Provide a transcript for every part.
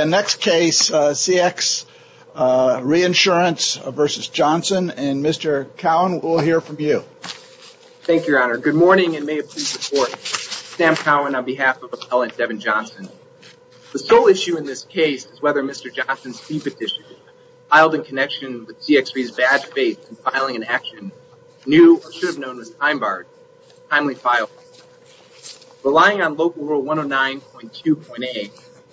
The next case, CX Reinsurance v. Johnson, and Mr. Cowan, we'll hear from you. Thank you, Your Honor. Good morning, and may it please the Court, Sam Cowan on behalf of Appellant Devon Johnson. The sole issue in this case is whether Mr. Johnson's fee petition filed in connection with CX Re's bad faith in filing an action, new or should have known as time barred, timely filed. Relying on Local Rule 109.2.A,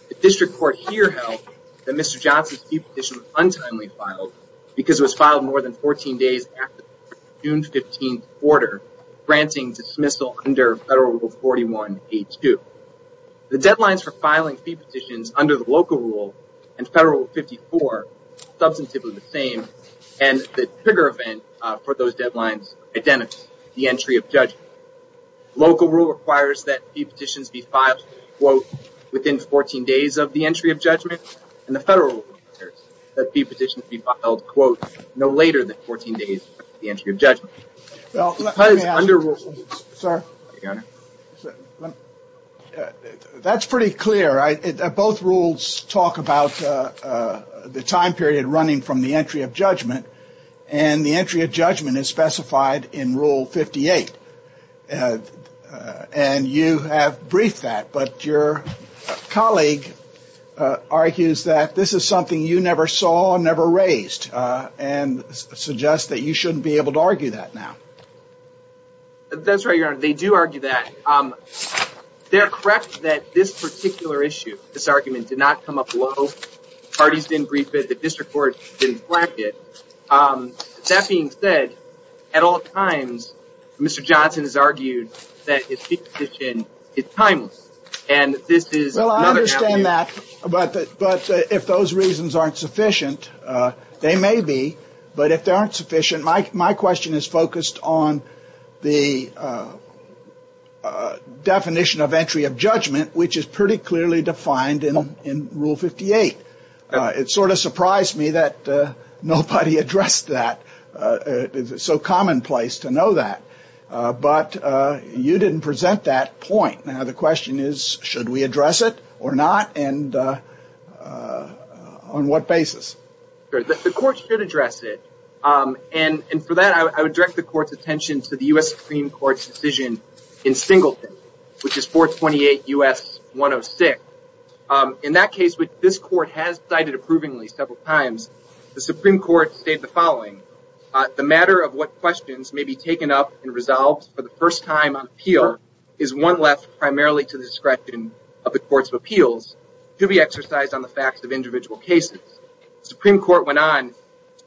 the District Court here held that Mr. Johnson's fee petition was untimely filed because it was filed more than 14 days after the June 15th order, granting dismissal under Federal Rule 41.A.2. The deadlines for filing fee petitions under the Local Rule and Federal Rule 54 are substantively the same, and the trigger event for those deadlines identifies the entry of judgment. Local Rule requires that fee petitions be filed, quote, within 14 days of the entry of judgment, and the Federal Rule requires that fee petitions be filed, quote, no later than 14 days of the entry of judgment. Because under Rule… Well, let me ask you, sir, that's pretty clear. Both rules talk about the time period running from the entry of judgment, and the entry of judgment is specified in Rule 58, and you have briefed that. But your colleague argues that this is something you never saw, never raised, and suggests that you shouldn't be able to argue that now. That's right, Your Honor. They do argue that. They are correct that this particular issue, this argument, did not come up low. Parties didn't brief it. The District Court didn't flag it. That being said, at all times, Mr. Johnson has argued that a fee petition is timeless, and this is another… Well, I understand that, but if those reasons aren't sufficient, they may be. But if they aren't sufficient, my question is focused on the definition of entry of judgment, which is pretty clearly defined in Rule 58. It sort of surprised me that nobody addressed that. It's so commonplace to know that. But you didn't present that point. Now, the question is, should we address it or not, and on what basis? The Court should address it, and for that, I would direct the Court's attention to the U.S. Supreme Court's decision in Singleton, which is 428 U.S. 106. In that case, which this Court has cited approvingly several times, the Supreme Court stated the following. The matter of what questions may be taken up and resolved for the first time on appeal is one left primarily to the discretion of the Courts of Appeals to be exercised on the facts of individual cases. The Supreme Court went on.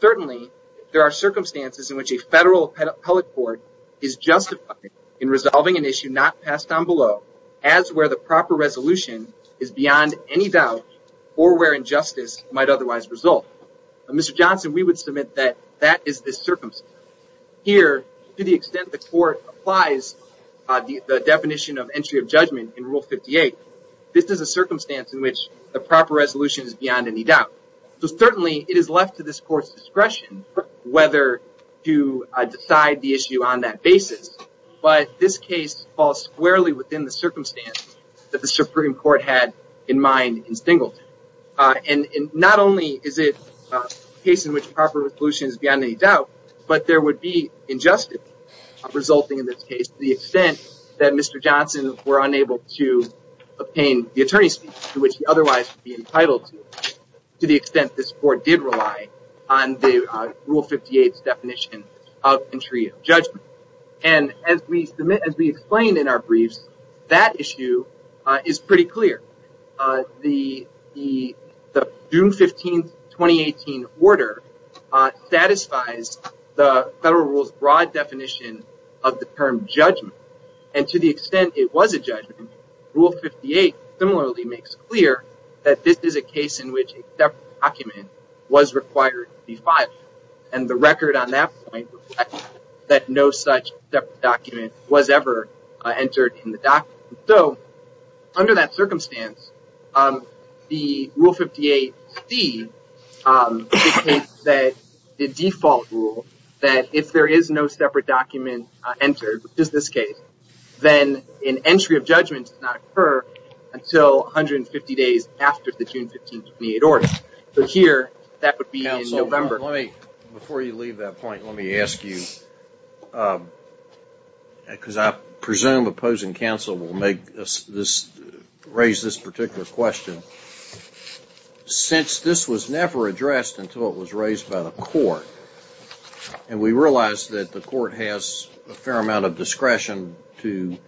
Certainly, there are circumstances in which a federal appellate court is justified in where the proper resolution is beyond any doubt or where injustice might otherwise result. Mr. Johnson, we would submit that that is the circumstance. Here, to the extent the Court applies the definition of entry of judgment in Rule 58, this is a circumstance in which the proper resolution is beyond any doubt. So certainly, it is left to this Court's discretion whether to decide the issue on that basis, but this case falls squarely within the circumstance that the Supreme Court had in mind in Singleton. Not only is it a case in which proper resolution is beyond any doubt, but there would be injustice resulting in this case to the extent that Mr. Johnson were unable to obtain the attorney's speech to which he otherwise would be entitled to, to the extent this Court did rely on the And as we explained in our briefs, that issue is pretty clear. The June 15, 2018 order satisfies the federal rule's broad definition of the term judgment. And to the extent it was a judgment, Rule 58 similarly makes clear that this is a case in which a separate document was required to be filed. And the record on that point reflects that no such separate document was ever entered in the document. So, under that circumstance, the Rule 58c dictates that the default rule that if there is no separate document entered, which is this case, then an entry of judgment does not occur until 150 days after the June 15, 2018 order. But here, that would be in November. Counsel, before you leave that point, let me ask you, because I presume opposing counsel will make this, raise this particular question. Since this was never addressed until it was raised by the Court, and we realize that the Court has a fair amount of discretion to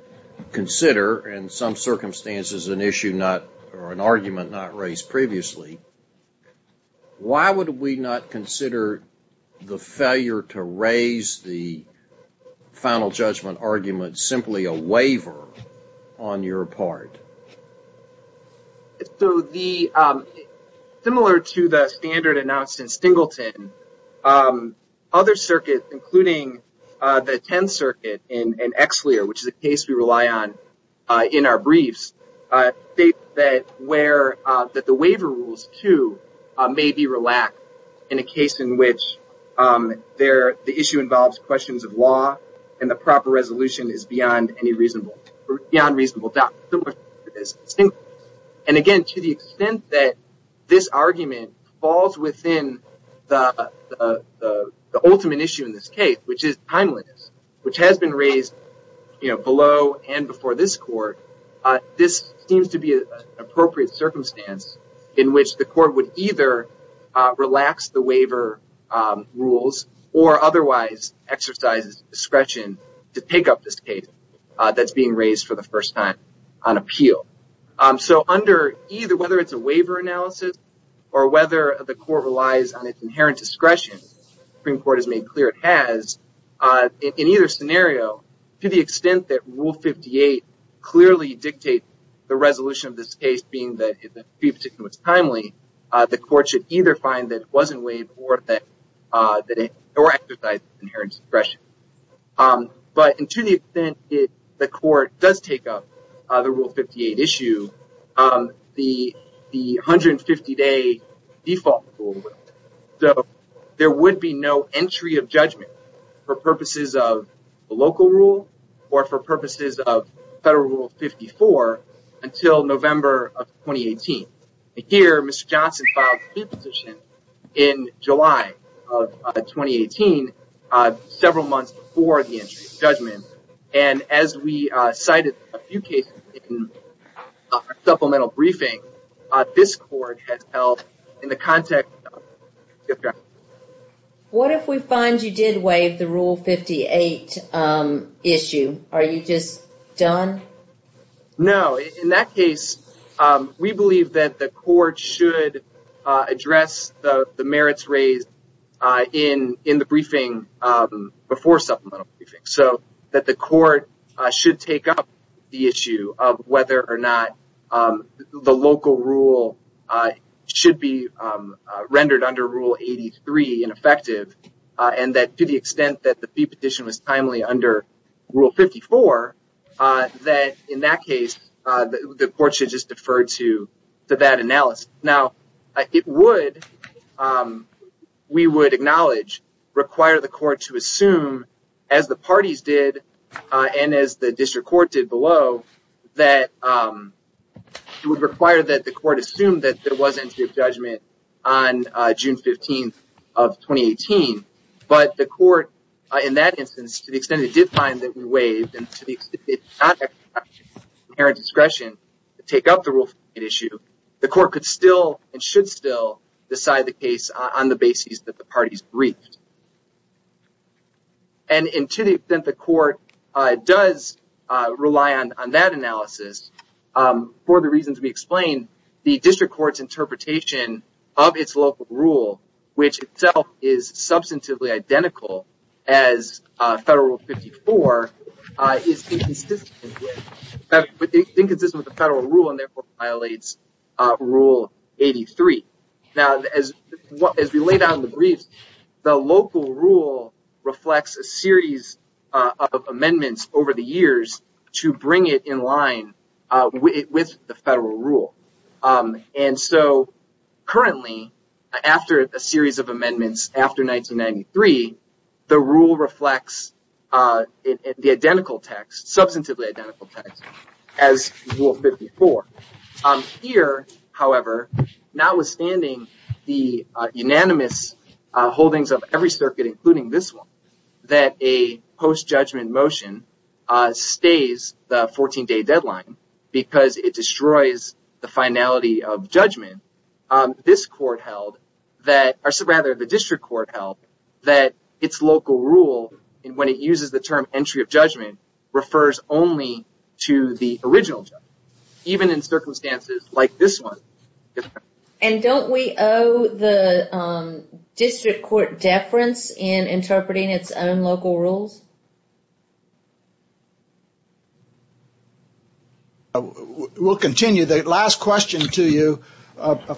consider in some circumstances an issue not, or an exception, why would we not consider the failure to raise the final judgment argument simply a waiver on your part? So, the, similar to the standard announced in Stingleton, other circuits, including the 10th Circuit and ExCLEAR, which is a case we rely on in our briefs, state that where the waiver rules, too, may be relaxed in a case in which the issue involves questions of law and the proper resolution is beyond any reasonable, beyond reasonable doubt. And again, to the extent that this argument falls within the ultimate issue in this case, which is timeliness, which has been raised below and before this Court, this seems to be an appropriate circumstance in which the Court would either relax the waiver rules or otherwise exercise discretion to take up this case that's being raised for the first time on appeal. So, under either, whether it's a waiver analysis or whether the Court relies on its inherent discretion, the Supreme Court has made clear it has, in either scenario, to the extent that Rule 58 clearly dictates the resolution of this case being that, if the fee petition was timely, the Court should either find that it wasn't waived or that it, or exercise inherent discretion. But to the extent that the Court does take up the Rule 58 issue, the 150-day default rule, so there would be no entry of judgment for purposes of the local rule or for purposes of Federal Rule 54 until November of 2018. Here, Mr. Johnson filed a fee petition in July of 2018, several months before the entry of judgment. And as we cited a few cases in our supplemental briefing, this Court has held in the context of... What if we find you did waive the Rule 58 issue? Are you just done? No. In that case, we believe that the Court should address the merits raised in the briefing before supplemental briefing. So, that the Court should take up the issue of whether or not the local rule should be ineffective and that to the extent that the fee petition was timely under Rule 54, that in that case, the Court should just defer to that analysis. Now, it would, we would acknowledge, require the Court to assume, as the parties did and as the District Court did below, that it would require that the Court assume that there was an entry of judgment on June 15th of 2018. But the Court, in that instance, to the extent it did find that we waived and to the extent it did not have the discretion to take up the Rule 58 issue, the Court could still and should still decide the case on the basis that the parties briefed. And to the extent the Court does rely on that analysis, for the reasons we explained, the implementation of its local rule, which itself is substantively identical as Federal Rule 54, is inconsistent with the Federal Rule and therefore violates Rule 83. Now, as we laid out in the briefs, the local rule reflects a series of amendments over the years to bring it in line with the Federal Rule. And so, currently, after a series of amendments after 1993, the rule reflects the identical text, substantively identical text, as Rule 54. Here, however, notwithstanding the unanimous holdings of every circuit, including this one, that a post-judgment motion stays the 14-day deadline because it destroys the finality of judgment, this Court held that, or rather, the District Court held that its local rule, when it uses the term entry of judgment, refers only to the original judgment, even in circumstances like this one. And don't we owe the District Court deference in interpreting its own local rules? We'll continue. The last question to you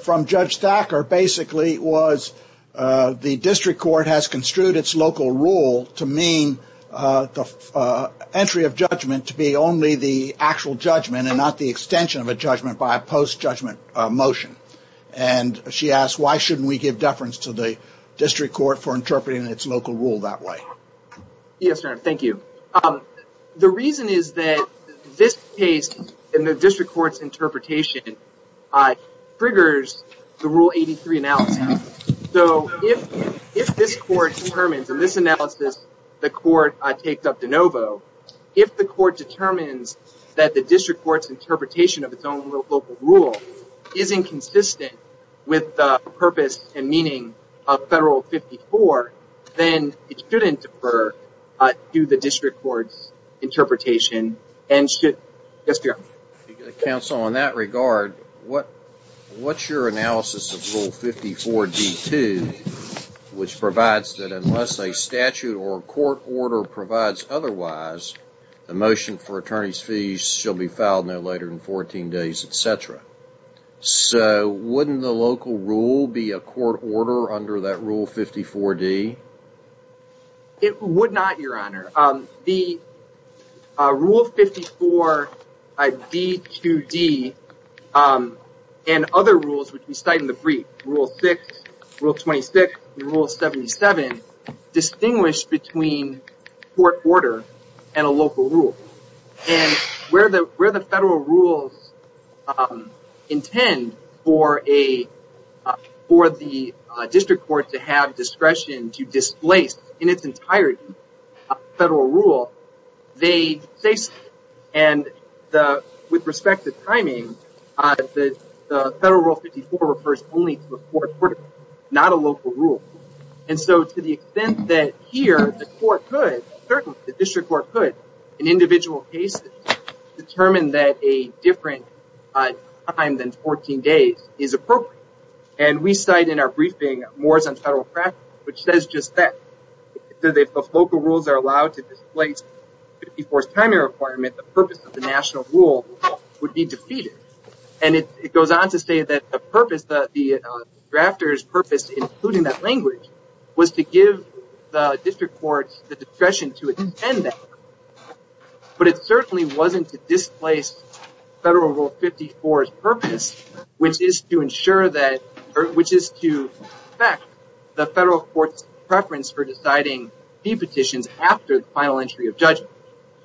from Judge Thacker, basically, was the District Court has construed its local rule to mean the entry of judgment to be only the actual judgment and not the extension of a judgment by a post-judgment motion. And she asked, why shouldn't we give deference to the District Court for interpreting its local rule that way? Yes, Your Honor, thank you. The reason is that this case, in the District Court's interpretation, triggers the Rule 83 analysis. So, if this Court determines, in this analysis, the Court takes up de novo, if the Court determines that the District Court's interpretation of its own local rule is inconsistent with the meaning of Federal Rule 54, then it shouldn't defer to the District Court's interpretation and should... Yes, Your Honor. Counsel, in that regard, what's your analysis of Rule 54d-2, which provides that unless a statute or court order provides otherwise, the motion for attorney's fees shall be filed no later than 14 days, etc. So, wouldn't the local rule be a court order under that Rule 54d? It would not, Your Honor. The Rule 54d-2d and other rules, which we cite in the brief, Rule 6, Rule 26, Rule 77, distinguish between court order and a local rule. And where the Federal rules intend for the District Court to have discretion to displace, in its entirety, a Federal rule, they say so. And with respect to timing, the Federal Rule 54 refers only to a court order, not a local rule. And so, to the extent that here, the court could, certainly the District Court could, in individual cases, determine that a different time than 14 days is appropriate. And we cite in our briefing mores on Federal practice, which says just that. If the local rules are allowed to displace Rule 54's timing requirement, the purpose of the national rule would be defeated. And it goes on to say that the purpose, the drafter's purpose, including that language, was to give the District Court the discretion to extend that. But it certainly wasn't to displace Federal Rule 54's purpose, which is to ensure that, which is to affect the Federal Court's preference for deciding fee petitions after the final entry of judgment.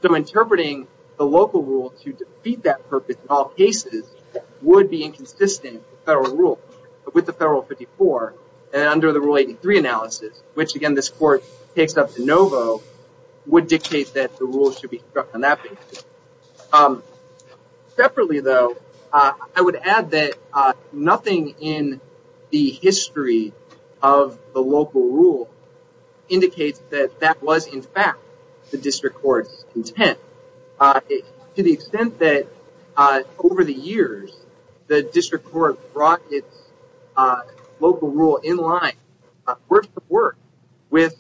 So, interpreting the local rule to defeat that purpose in all cases would be inconsistent with Federal Rule, with the Federal Rule 54, and under the Rule 83 analysis, which, again, this court takes up de novo, would dictate that the rule should be struck on that basis. Separately, though, I would add that nothing in the history of the local rule indicates that that was, in fact, the District Court's intent. To the extent that, over the years, the District Court brought its local rule in line, word for word, with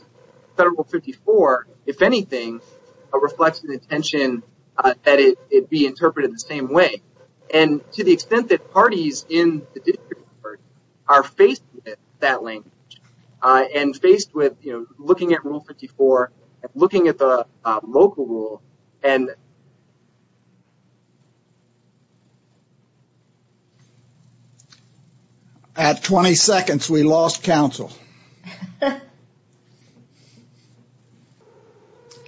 Federal Rule 54, if anything, reflects an intention that it be interpreted the same way. And to the extent that parties in the District Court are faced with that language, and faced with, you know, looking at Rule 54, looking at the local rule, and... At 20 seconds, we lost counsel.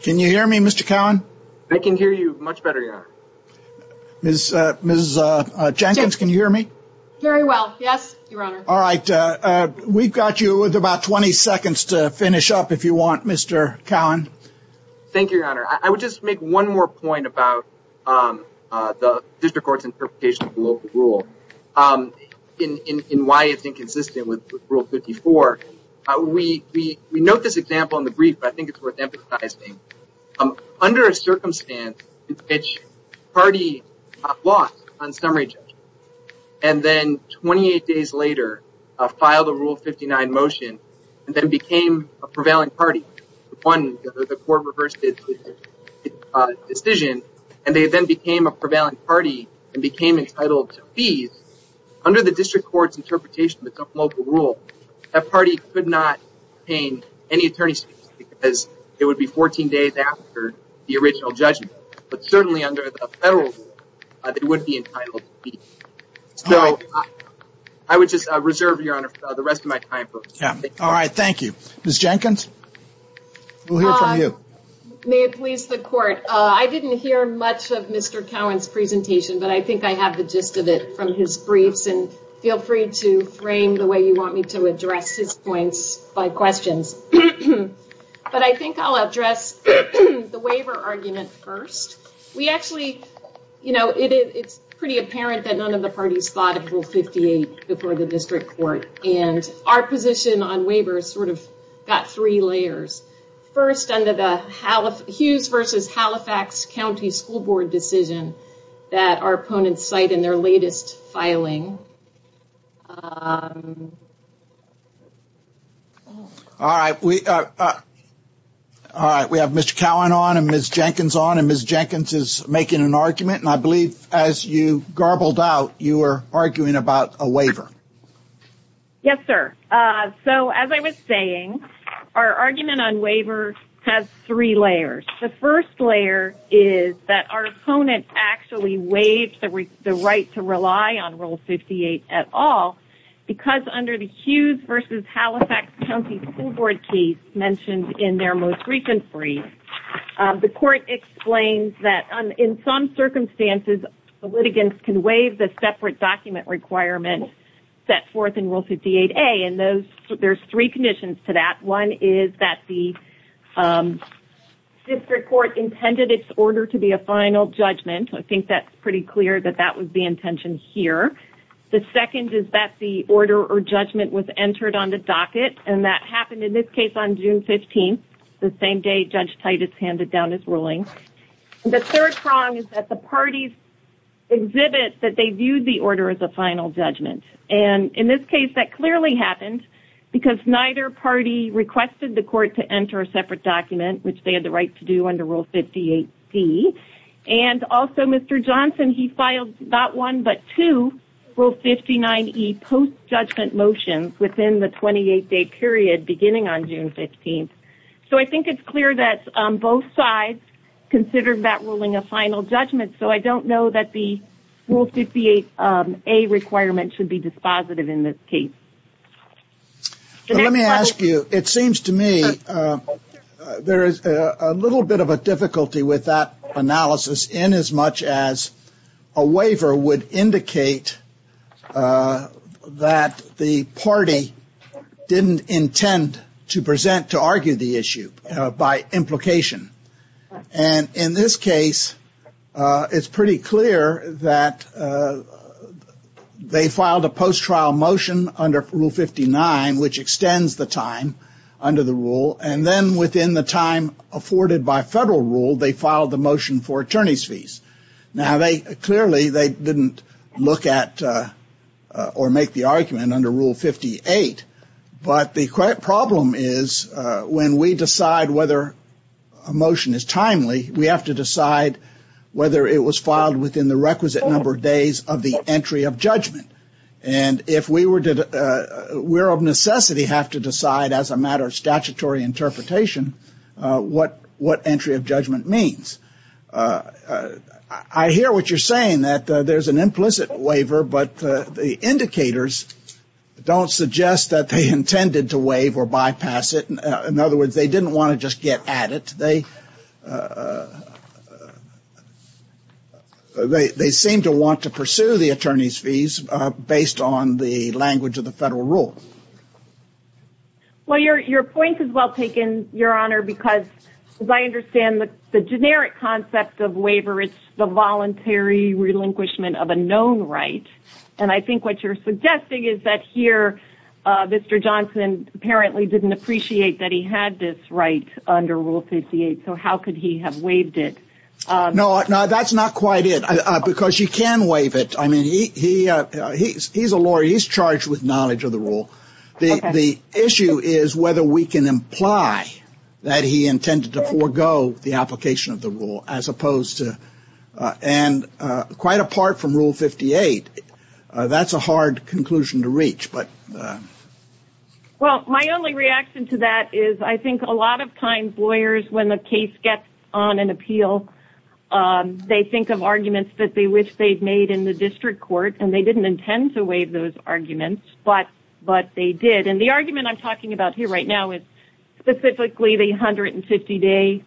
Can you hear me, Mr. Cowen? I can hear you much better, Your Honor. Ms. Jenkins, can you hear me? Very well, yes, Your Honor. All right, we've got you with about 20 seconds to finish up, if you want, Mr. Cowen. Thank you, Your Honor. I would just make one more point about the District Court's interpretation of the local rule, and why it's inconsistent with Rule 54. We note this example in the brief, but I think it's worth emphasizing. Under a circumstance in which a party lost on summary judgment, and then 28 days later, filed a Rule 59 motion, and then became a prevailing party, won, the court reversed its decision, and they then became a prevailing party, and became entitled to fees, under the District Court's interpretation of the local rule, that party could not obtain any attorney's fees, because it would be 14 days after the original judgment. But certainly under the federal rule, they would be entitled to fees. So, I would just reserve, Your Honor, the rest of my time for... All right, thank you. Ms. Jenkins? We'll hear from you. May it please the Court. I didn't hear much of Mr. Cowen's presentation, but I think I have the gist of it from his briefs, and feel free to frame the way you want me to address his points by questions. But I think I'll address the waiver argument first. We actually, you know, it's pretty apparent that none of the parties thought of Rule 58 before the District Court, and our position on waivers sort of got three layers. First, under the Hughes v. Halifax County School Board decision, that our opponents cite in their latest filing... All right, we have Mr. Cowen on, and Ms. Jenkins on, and Ms. Jenkins is making an argument. And I believe, as you garbled out, you were arguing about a waiver. Yes, sir. So, as I was saying, our argument on waivers has three layers. The first layer is that our opponent actually waived the right to rely on Rule 58 at all, because under the Hughes v. Halifax County School Board case mentioned in their most recent brief, the Court explains that, in some circumstances, the litigants can waive the separate document requirement set forth in Rule 58A, and there's three conditions to that. One is that the District Court intended its order to be a final judgment. I think that's pretty clear that that was the intention here. The second is that the order or judgment was entered on the docket, and that happened, in this case, on June 15th, the same day Judge Titus handed down his ruling. The third prong is that the parties exhibit that they viewed the order as a final judgment. And, in this case, that clearly happened, because neither party requested the Court to enter a separate document, which they had the right to do under Rule 58C. And, also, Mr. Johnson, he filed not one but two Rule 59E post-judgment motions within the 28-day period beginning on June 15th. So, I think it's clear that both sides considered that ruling a final judgment. So, I don't know that the Rule 58A requirement should be dispositive in this case. Let me ask you. It seems to me there is a little bit of a difficulty with that analysis inasmuch as a waiver would indicate that the party didn't intend to present to argue the issue by implication. And, in this case, it's pretty clear that they filed a post-trial motion under Rule 59, which extends the time under the rule, and then, within the time afforded by federal rule, they filed the motion for attorney's fees. Now, clearly, they didn't look at or make the argument under Rule 58, but the problem is when we decide whether a motion is timely, we have to decide whether it was filed within the requisite number of days of the entry of judgment. And, if we were to, we're of necessity have to decide, as a matter of statutory interpretation, what entry of judgment means. I hear what you're saying, that there's an implicit waiver, but the indicators don't suggest that they intended to waive or bypass it. In other words, they didn't want to just get at it. They seem to want to pursue the attorney's fees based on the language of the federal rule. Well, your point is well taken, Your Honor, because, as I understand, the generic concept of waiver is the voluntary relinquishment of a known right. And, I think what you're suggesting is that, here, Mr. Johnson apparently didn't appreciate that he had this right under Rule 58. So, how could he have waived it? No, that's not quite it. Because you can waive it. I mean, he's a lawyer. He's charged with knowledge of the rule. The issue is whether we can imply that he intended to forego the application of the rule. And, quite apart from Rule 58, that's a hard conclusion to reach. Well, my only reaction to that is I think a lot of times, lawyers, when the case gets on an appeal, they think of arguments that they wish they'd made in the district court, and they didn't intend to waive those arguments, but they did. And the argument I'm talking about here right now is specifically the 150-day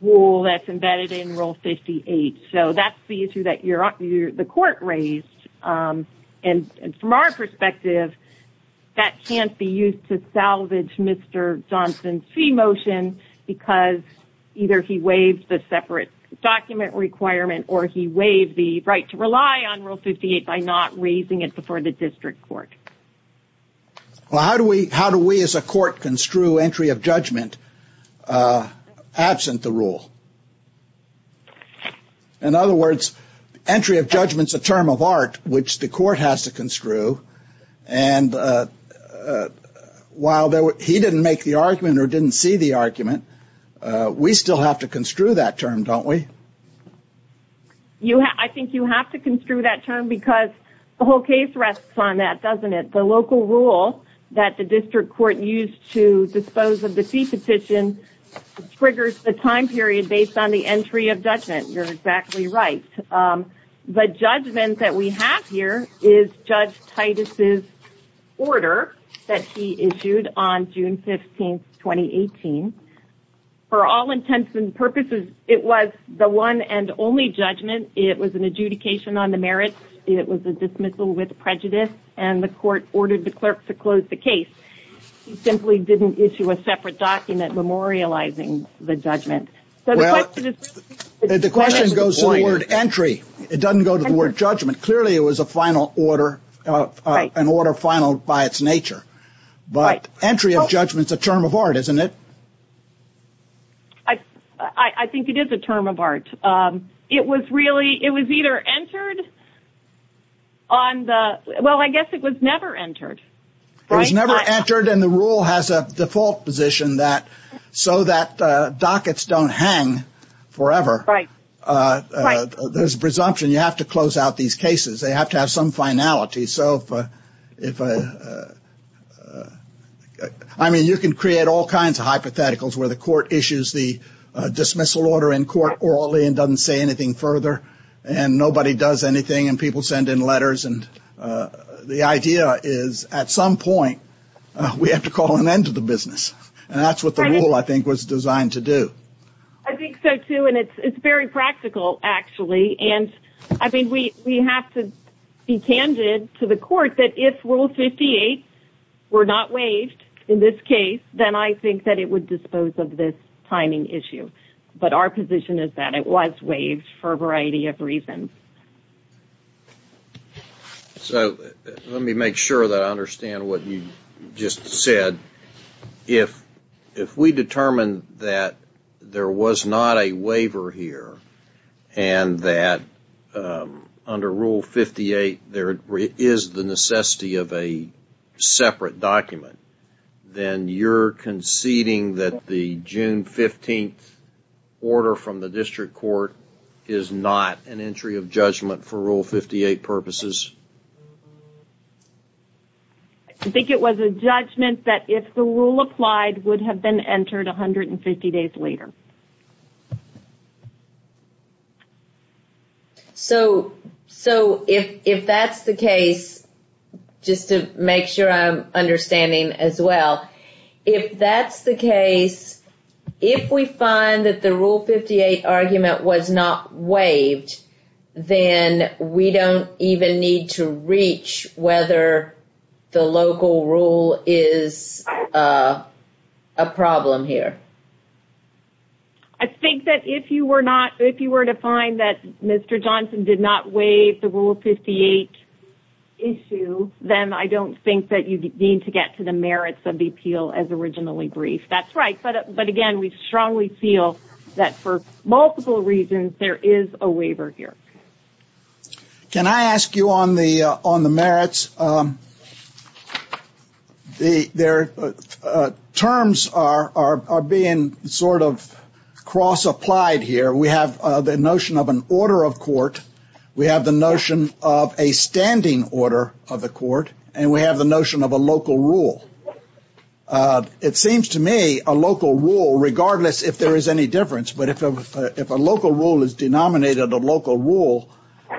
rule that's embedded in Rule 58. So, that's the issue that the court raised. And, from our perspective, that can't be used to salvage Mr. Johnson's fee motion because either he waived the separate document requirement, or he waived the right to rely on Rule 58 by not raising it before the district court. Well, how do we, as a court, construe entry of judgment absent the rule? In other words, entry of judgment's a term of art, which the court has to construe. And, while he didn't make the argument or didn't see the argument, we still have to construe that term, don't we? I think you have to construe that term because the whole case rests on that, doesn't it? The local rule that the district court used to dispose of the fee petition triggers the time period based on the entry of judgment. You're exactly right. The judgment that we have here is Judge Titus's order that he issued on June 15, 2018. For all intents and purposes, it was the one and only judgment. It was an adjudication on the merits. It was a dismissal with prejudice. And the court ordered the clerk to close the case. He simply didn't issue a separate document memorializing the judgment. The question goes to the word entry. It doesn't go to the word judgment. Clearly, it was an order finaled by its nature. But entry of judgment's a term of art, isn't it? I think it is a term of art. It was either entered on the... Well, I guess it was never entered. It was never entered and the rule has a default position so that dockets don't hang forever. There's a presumption you have to close out these cases. They have to have some finality. You can create all kinds of hypotheticals where the court issues the dismissal order in court orally and doesn't say anything further. And nobody does anything and people send in letters. The idea is, at some point, we have to call an end to the business. And that's what the rule, I think, was designed to do. I think so, too. And it's very practical, actually. And I think we have to be candid to the court that if Rule 58 were not waived in this case, then I think that it would dispose of this timing issue. But our position is that it was waived for a variety of reasons. Let me make sure that I understand what you just said. If we determine that there was not a waiver here and that under Rule 58 there is the necessity of a separate document, then you're conceding that the June 15th order from the district court is not an entry of judgment for Rule 58 purposes? I think it was a judgment that if the rule applied, it would have been entered 150 days later. So, if that's the case, just to make sure I'm understanding as well, if that's the case, if we find that the Rule 58 argument was not waived, then we don't even need to reach whether the local rule is a problem here. I think that if you were to find that Mr. Johnson did not waive the Rule 58 issue, then I don't think that you need to get to the merits of the appeal as originally briefed. That's right. But again, we strongly feel that for multiple reasons, there is a waiver here. Can I ask you on the merits? Terms are being sort of cross-applied here. We have the notion of an order of court, we have the notion of a standing order of the court, and we have the notion of a local rule. It seems to me a local rule, regardless if there is any difference, but if a local rule is denominated a local rule,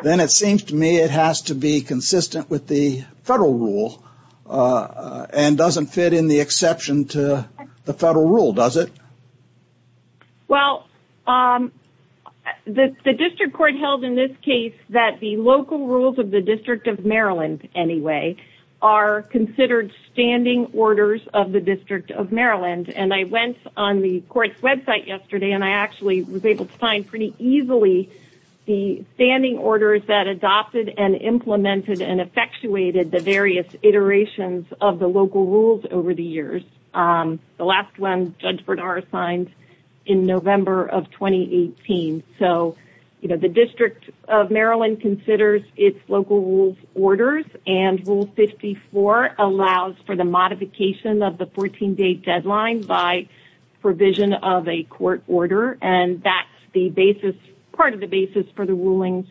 then it seems to me it has to be consistent with the federal rule, and doesn't fit in the exception to the federal rule, does it? Well, the district court held in this case that the local rules of the District of Maryland, anyway, are considered standing orders of the District of Maryland. And I went on the court's website yesterday, and I actually was able to find pretty easily the standing orders that adopted and implemented and effectuated the various iterations of the local rules over the years. The last one, Judge Bernard signed in November of 2018. So the District of Maryland considers its local rules orders, and Rule 54 allows for the modification of the 14-day deadline by provision of a court order, and that's part of the basis for the rulings,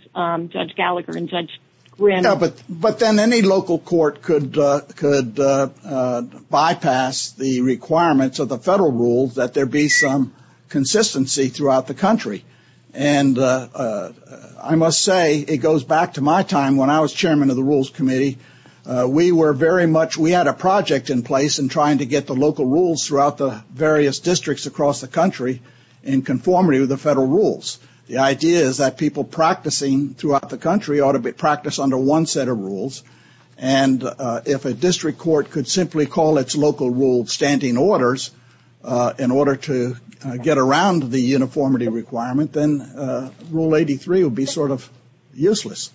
Judge Gallagher and Judge Grimm. But then any local court could bypass the requirements of the federal rules that there be some consistency throughout the country. And I must say, it goes back to my time when I was chairman of the Rules Committee. We had a project in place in trying to get the local rules throughout the various districts across the country in conformity with the federal rules. The idea is that people practicing throughout the country ought to practice under one set of rules, and if a district court could simply call its local rules standing orders in order to get around the uniformity requirement, then Rule 83 would be sort of useless.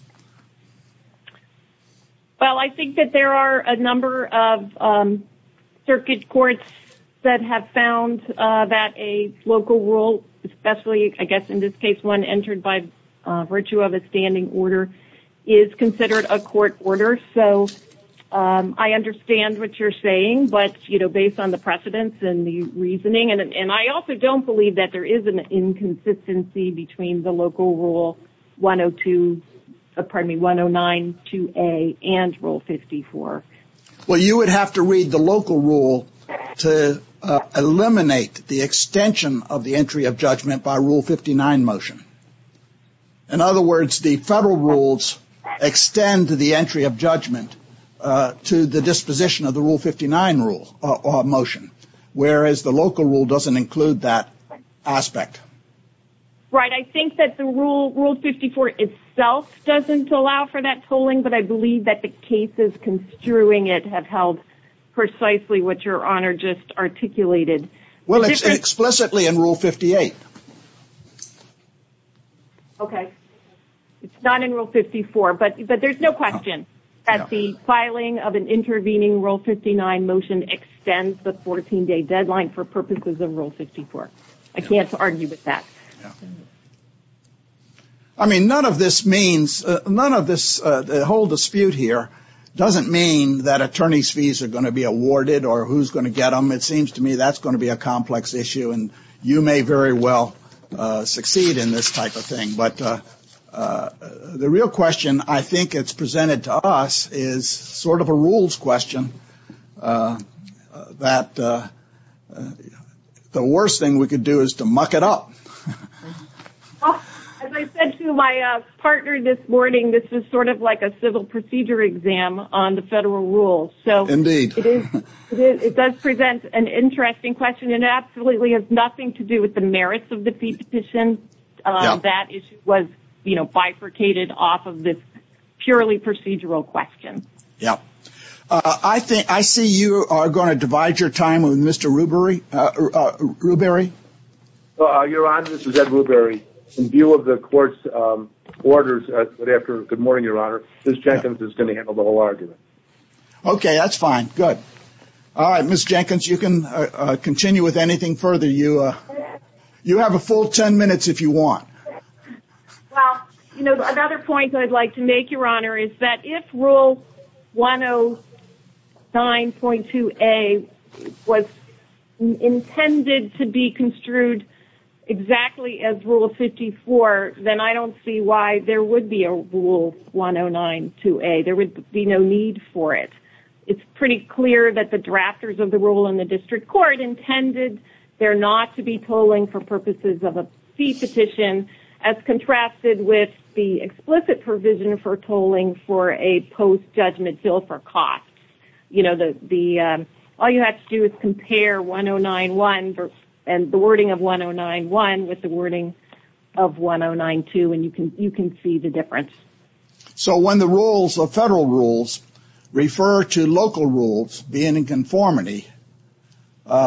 Well, I think that there are a number of circuit courts that have found that a local rule, especially, I guess in this case, one entered by virtue of a standing order, is considered a court order. So I understand what you're saying, but based on the precedence and the reasoning, and I also don't believe that there is an inconsistency between the local Rule 102, pardon me, 109-2A and Rule 54. Well, you would have to read the local rule to eliminate the extension of the entry of judgment by Rule 59 motion. In other words, the federal rules extend the entry of judgment to the disposition of the Rule 59 motion, whereas the local rule doesn't include that aspect. Right, I think that the Rule 54 itself doesn't allow for that tolling, but I believe that the cases construing it have held precisely what Your Honor just articulated. Well, it's explicitly in Rule 58. Okay, it's not in Rule 54, but there's no question that the filing of an intervening Rule 59 motion extends the 14-day deadline for purposes of Rule 54. I can't argue with that. I mean, none of this means, the whole dispute here doesn't mean that attorney's fees are going to be awarded or who's going to get them. It seems to me that's going to be a complex issue and you may very well succeed in this type of thing. But the real question I think it's presented to us is sort of a rules question that the worst thing we could do is to muck it up. As I said to my partner this morning, this is sort of like a civil procedure exam on the federal rules. It does present an interesting question and absolutely has nothing to do with the merits of the Petition. That issue was bifurcated off of this purely procedural question. I see you are going to divide your time with Mr. Rubery. Your Honor, this is Ed Rubery. In view of the Court's orders, good morning, Your Honor, Ms. Jenkins is going to handle the whole argument. Okay, that's fine. Good. Ms. Jenkins, you can continue with anything further. You have a full 10 minutes if you want. Another point I'd like to make, Your Honor, is that if Rule 109.2A was intended to be construed exactly as Rule 54, then I don't see why there would be a Rule 109.2A. There would be no need for it. It's pretty clear that the drafters of the Rule in the District Court intended there not to be tolling for purposes of a fee petition as contrasted with the explicit provision for tolling for a post-judgment bill for costs. All you have to do is compare 109.1 and the wording of 109.1 with the wording of 109.2 and you can see the difference. So when the Federal rules refer to local rules being in conformity,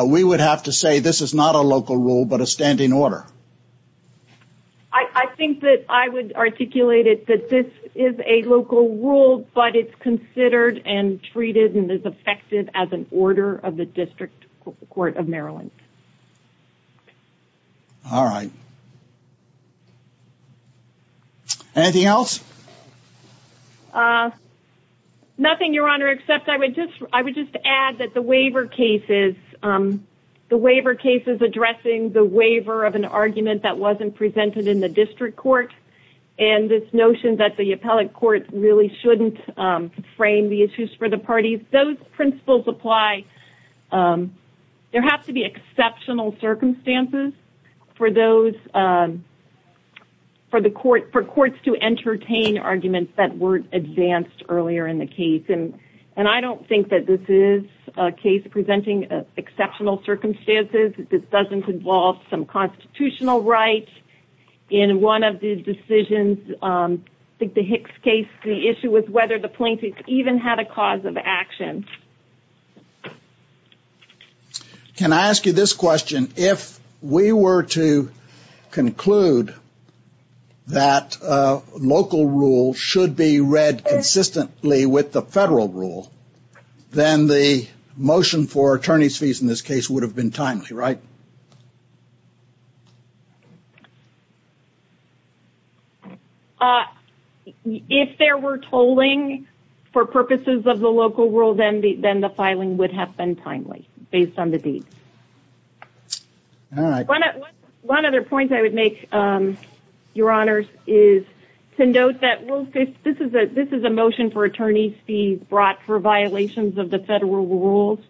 we would have to say this is not a local rule but a standing order? I think that I would articulate it that this is a local rule but it's considered and treated and is effective as an order of the District Court of Maryland. All right. Anything else? Nothing, Your Honor, except I would just add that the waiver cases addressing the waiver of an argument that wasn't presented in the District Court and this notion that the appellate court really shouldn't frame the issues for the parties, those principles apply. There have to be exceptional circumstances for courts to entertain arguments that weren't advanced earlier in the case. I don't think that this is a case that's presenting exceptional circumstances. This doesn't involve some constitutional rights. In one of the decisions, I think the Hicks case, the issue was whether the plaintiff even had a cause of action. Can I ask you this question? If we were to conclude that local rules should be read consistently with the Federal rule, then the motion for attorney's fees in this case would have been timely, right? If there were tolling for purposes of the local rule, then the filing would have been timely based on the deed. All right. One other point I would make, Your Honors, is to note that this is a motion for attorney's fees brought for violations of the Federal rules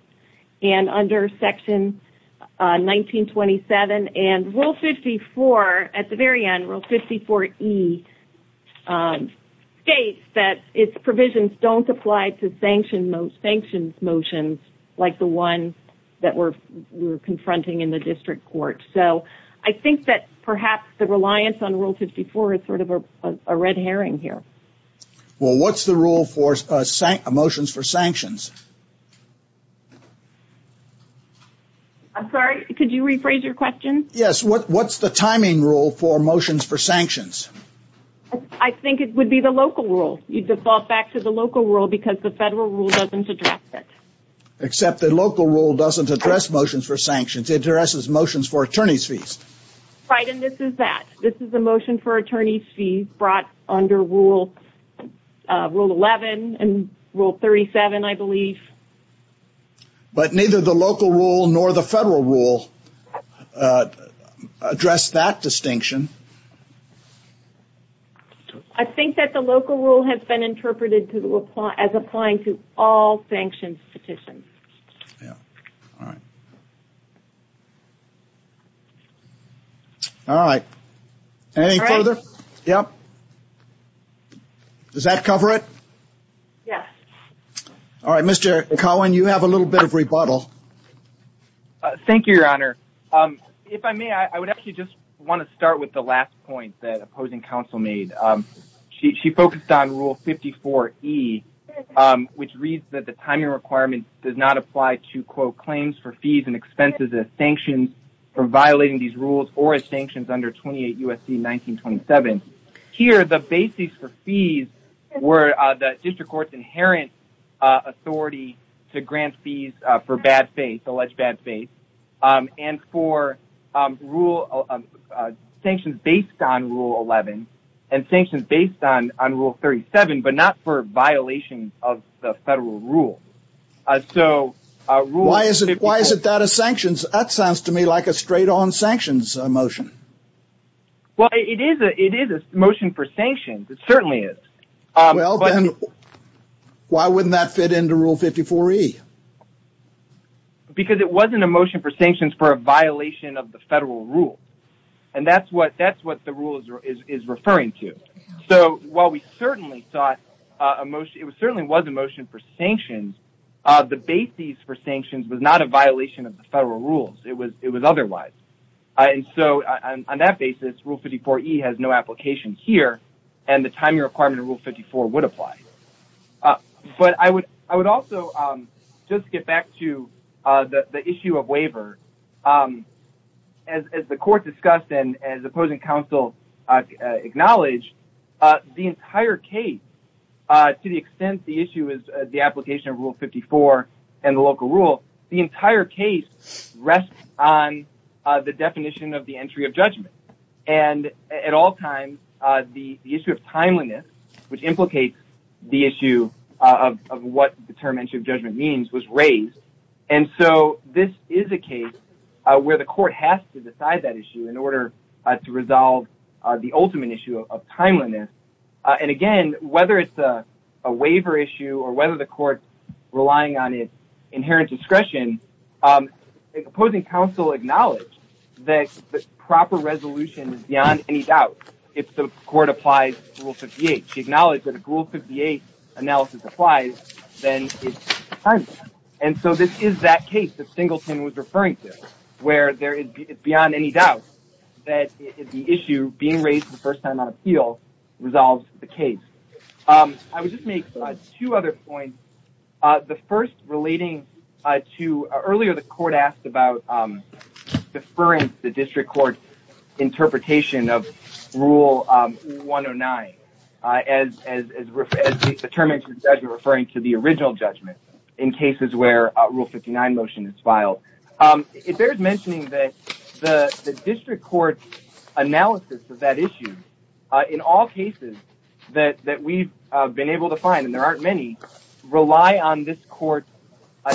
and under Section 1927. Rule 54, at the very end, Rule 54E, states that its provisions don't apply to sanctions motions like the ones that we're confronting in the district court. I think that perhaps the reliance on Rule 54 is sort of a red herring here. Well, what's the rule for motions for sanctions? I'm sorry? Could you rephrase your question? Yes. What's the timing rule for motions for sanctions? I think it would be the local rule. You default back to the local rule because the Federal rule doesn't address it. Except the local rule doesn't address motions for sanctions. It addresses motions for attorney's fees. Right, and this is that. This is a motion for attorney's fees brought under Rule 11 and Rule 37, I believe. But neither the local rule nor the Federal rule address that distinction. I think that the local rule has been interpreted as applying to all sanctions petitions. All right, anything further? Does that cover it? Yes. All right, Mr. Cohen, you have a little bit of rebuttal. Thank you, Your Honor. If I may, I would actually just want to start with the last point that opposing counsel made. She focused on Rule 54E, which reads that the timing requirement does not apply to claims for fees and expenses as sanctions for violating these rules or as sanctions under 28 U.S.C. 1927. Here, the basis for fees were the district court's inherent authority to grant fees for alleged bad faith and for sanctions based on Rule 11 and sanctions based on Rule 37, but not for violations of the Federal rule. Why is it that as sanctions? That sounds to me like a straight-on sanctions motion. Well, it is a motion for sanctions. It certainly is. Why wouldn't that fit into Rule 54E? Because it wasn't a motion for sanctions for a violation of the Federal rule. And that's what the rule is referring to. So while we certainly thought it certainly was a motion for sanctions, the basis for sanctions was not a violation of the Federal rules. It was otherwise. On that basis, Rule 54E has no application here, and the timing requirement of Rule 54 would apply. But I would also just get back to the issue of waiver. As the court discussed and as opposing counsel acknowledged, the entire case, to the extent the issue is the application of Rule 54 and the local rule, the entire case rests on the definition of the entry of judgment. And at all times, the issue of timeliness, which implicates the issue of what the term entry of judgment means, was raised. And so this is a case where the court has to decide that issue in order to resolve the ultimate issue of timeliness. And again, whether it's a waiver issue or whether the court's relying on its inherent discretion, the opposing counsel acknowledged that the proper resolution is beyond any doubt if the court applies Rule 58. She acknowledged that if Rule 58 analysis applies, then it's timeliness. And so this is that case that Singleton was referring to, where it's beyond any doubt that the issue being raised for the first time on appeal resolves the case. I would just make two other points. The first relating to earlier the court asked about deferring the district court's interpretation of Rule 109 as the term entry of judgment referring to the original judgment in cases where a Rule 59 motion is filed. It bears mentioning that the district court's analysis of that issue in all cases that we've been able to find, and there aren't many, rely on this court's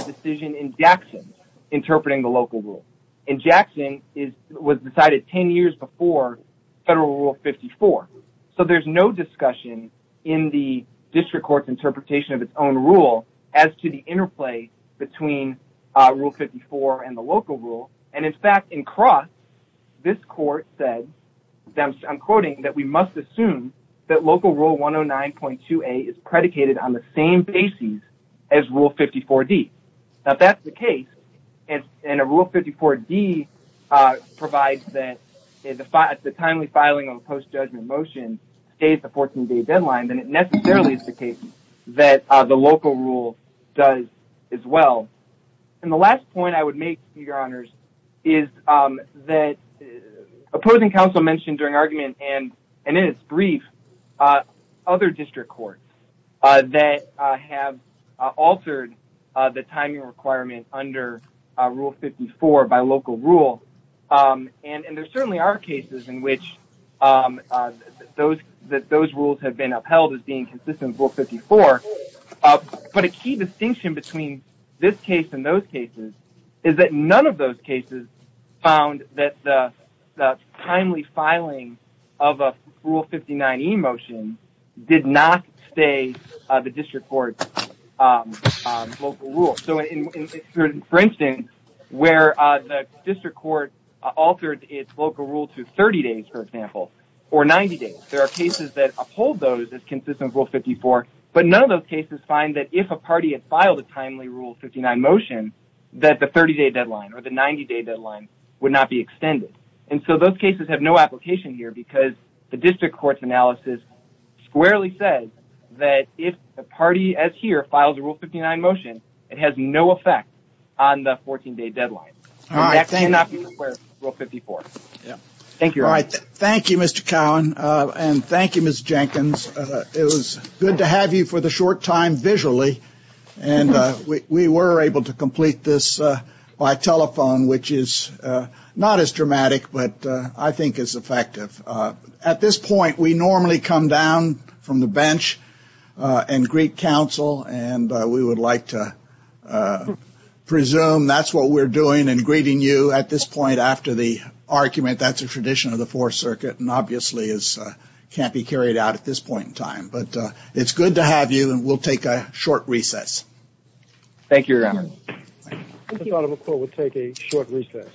decision in Jackson interpreting the local rule. And Jackson was decided 10 years before Federal Rule 54. So there's no discussion in the district court's interpretation of its own rule as to the interplay between Rule 54 and the local rule. And in fact, in cross, this court said, I'm quoting, that we must assume that Local Rule 109.2a is predicated on the same basis as Rule 54d. Now that's the case and Rule 54d provides that the timely filing of a post-judgment motion stays the 14-day deadline, then it necessarily is the case that the local rule does as well. And the last point I would make, Your Honors, is that opposing counsel mentioned during argument and in its brief, other district courts that have altered the timing requirement under Rule 54 by local rule. And there certainly are cases in which those rules have been upheld as being consistent with Rule 54. But a key distinction between this case and those cases is that none of those cases found that the timely filing of a Rule 59e motion did not stay the district court's local rule. So for instance, where the district court altered its local rule to 30 days, for example, or 90 days, there are cases that uphold those as consistent with Rule 54, but none of those cases find that if a party had filed a timely Rule 59 motion, that the 30-day deadline or the 90-day deadline would not be extended. And so those cases have no application here because the district court's analysis squarely says that if a party, as here, files a Rule 59 motion, it has no effect on the 14-day deadline. All right. Thank you. Thank you, Your Honor. Thank you, Mr. Cowan, and thank you, Ms. Jenkins. It was good to have you for the short time, visually. And we were able to complete this by telephone, which is not as dramatic, but I think is effective. At this point, we normally come down from the bench and greet counsel, and we would like to presume that's what we're doing and greeting you at this point after the argument. That's a tradition of the Fourth Circuit, and obviously can't be carried out at this point in time. But it's good to have you, and we'll take a short recess. Thank you, Your Honor. Thank you.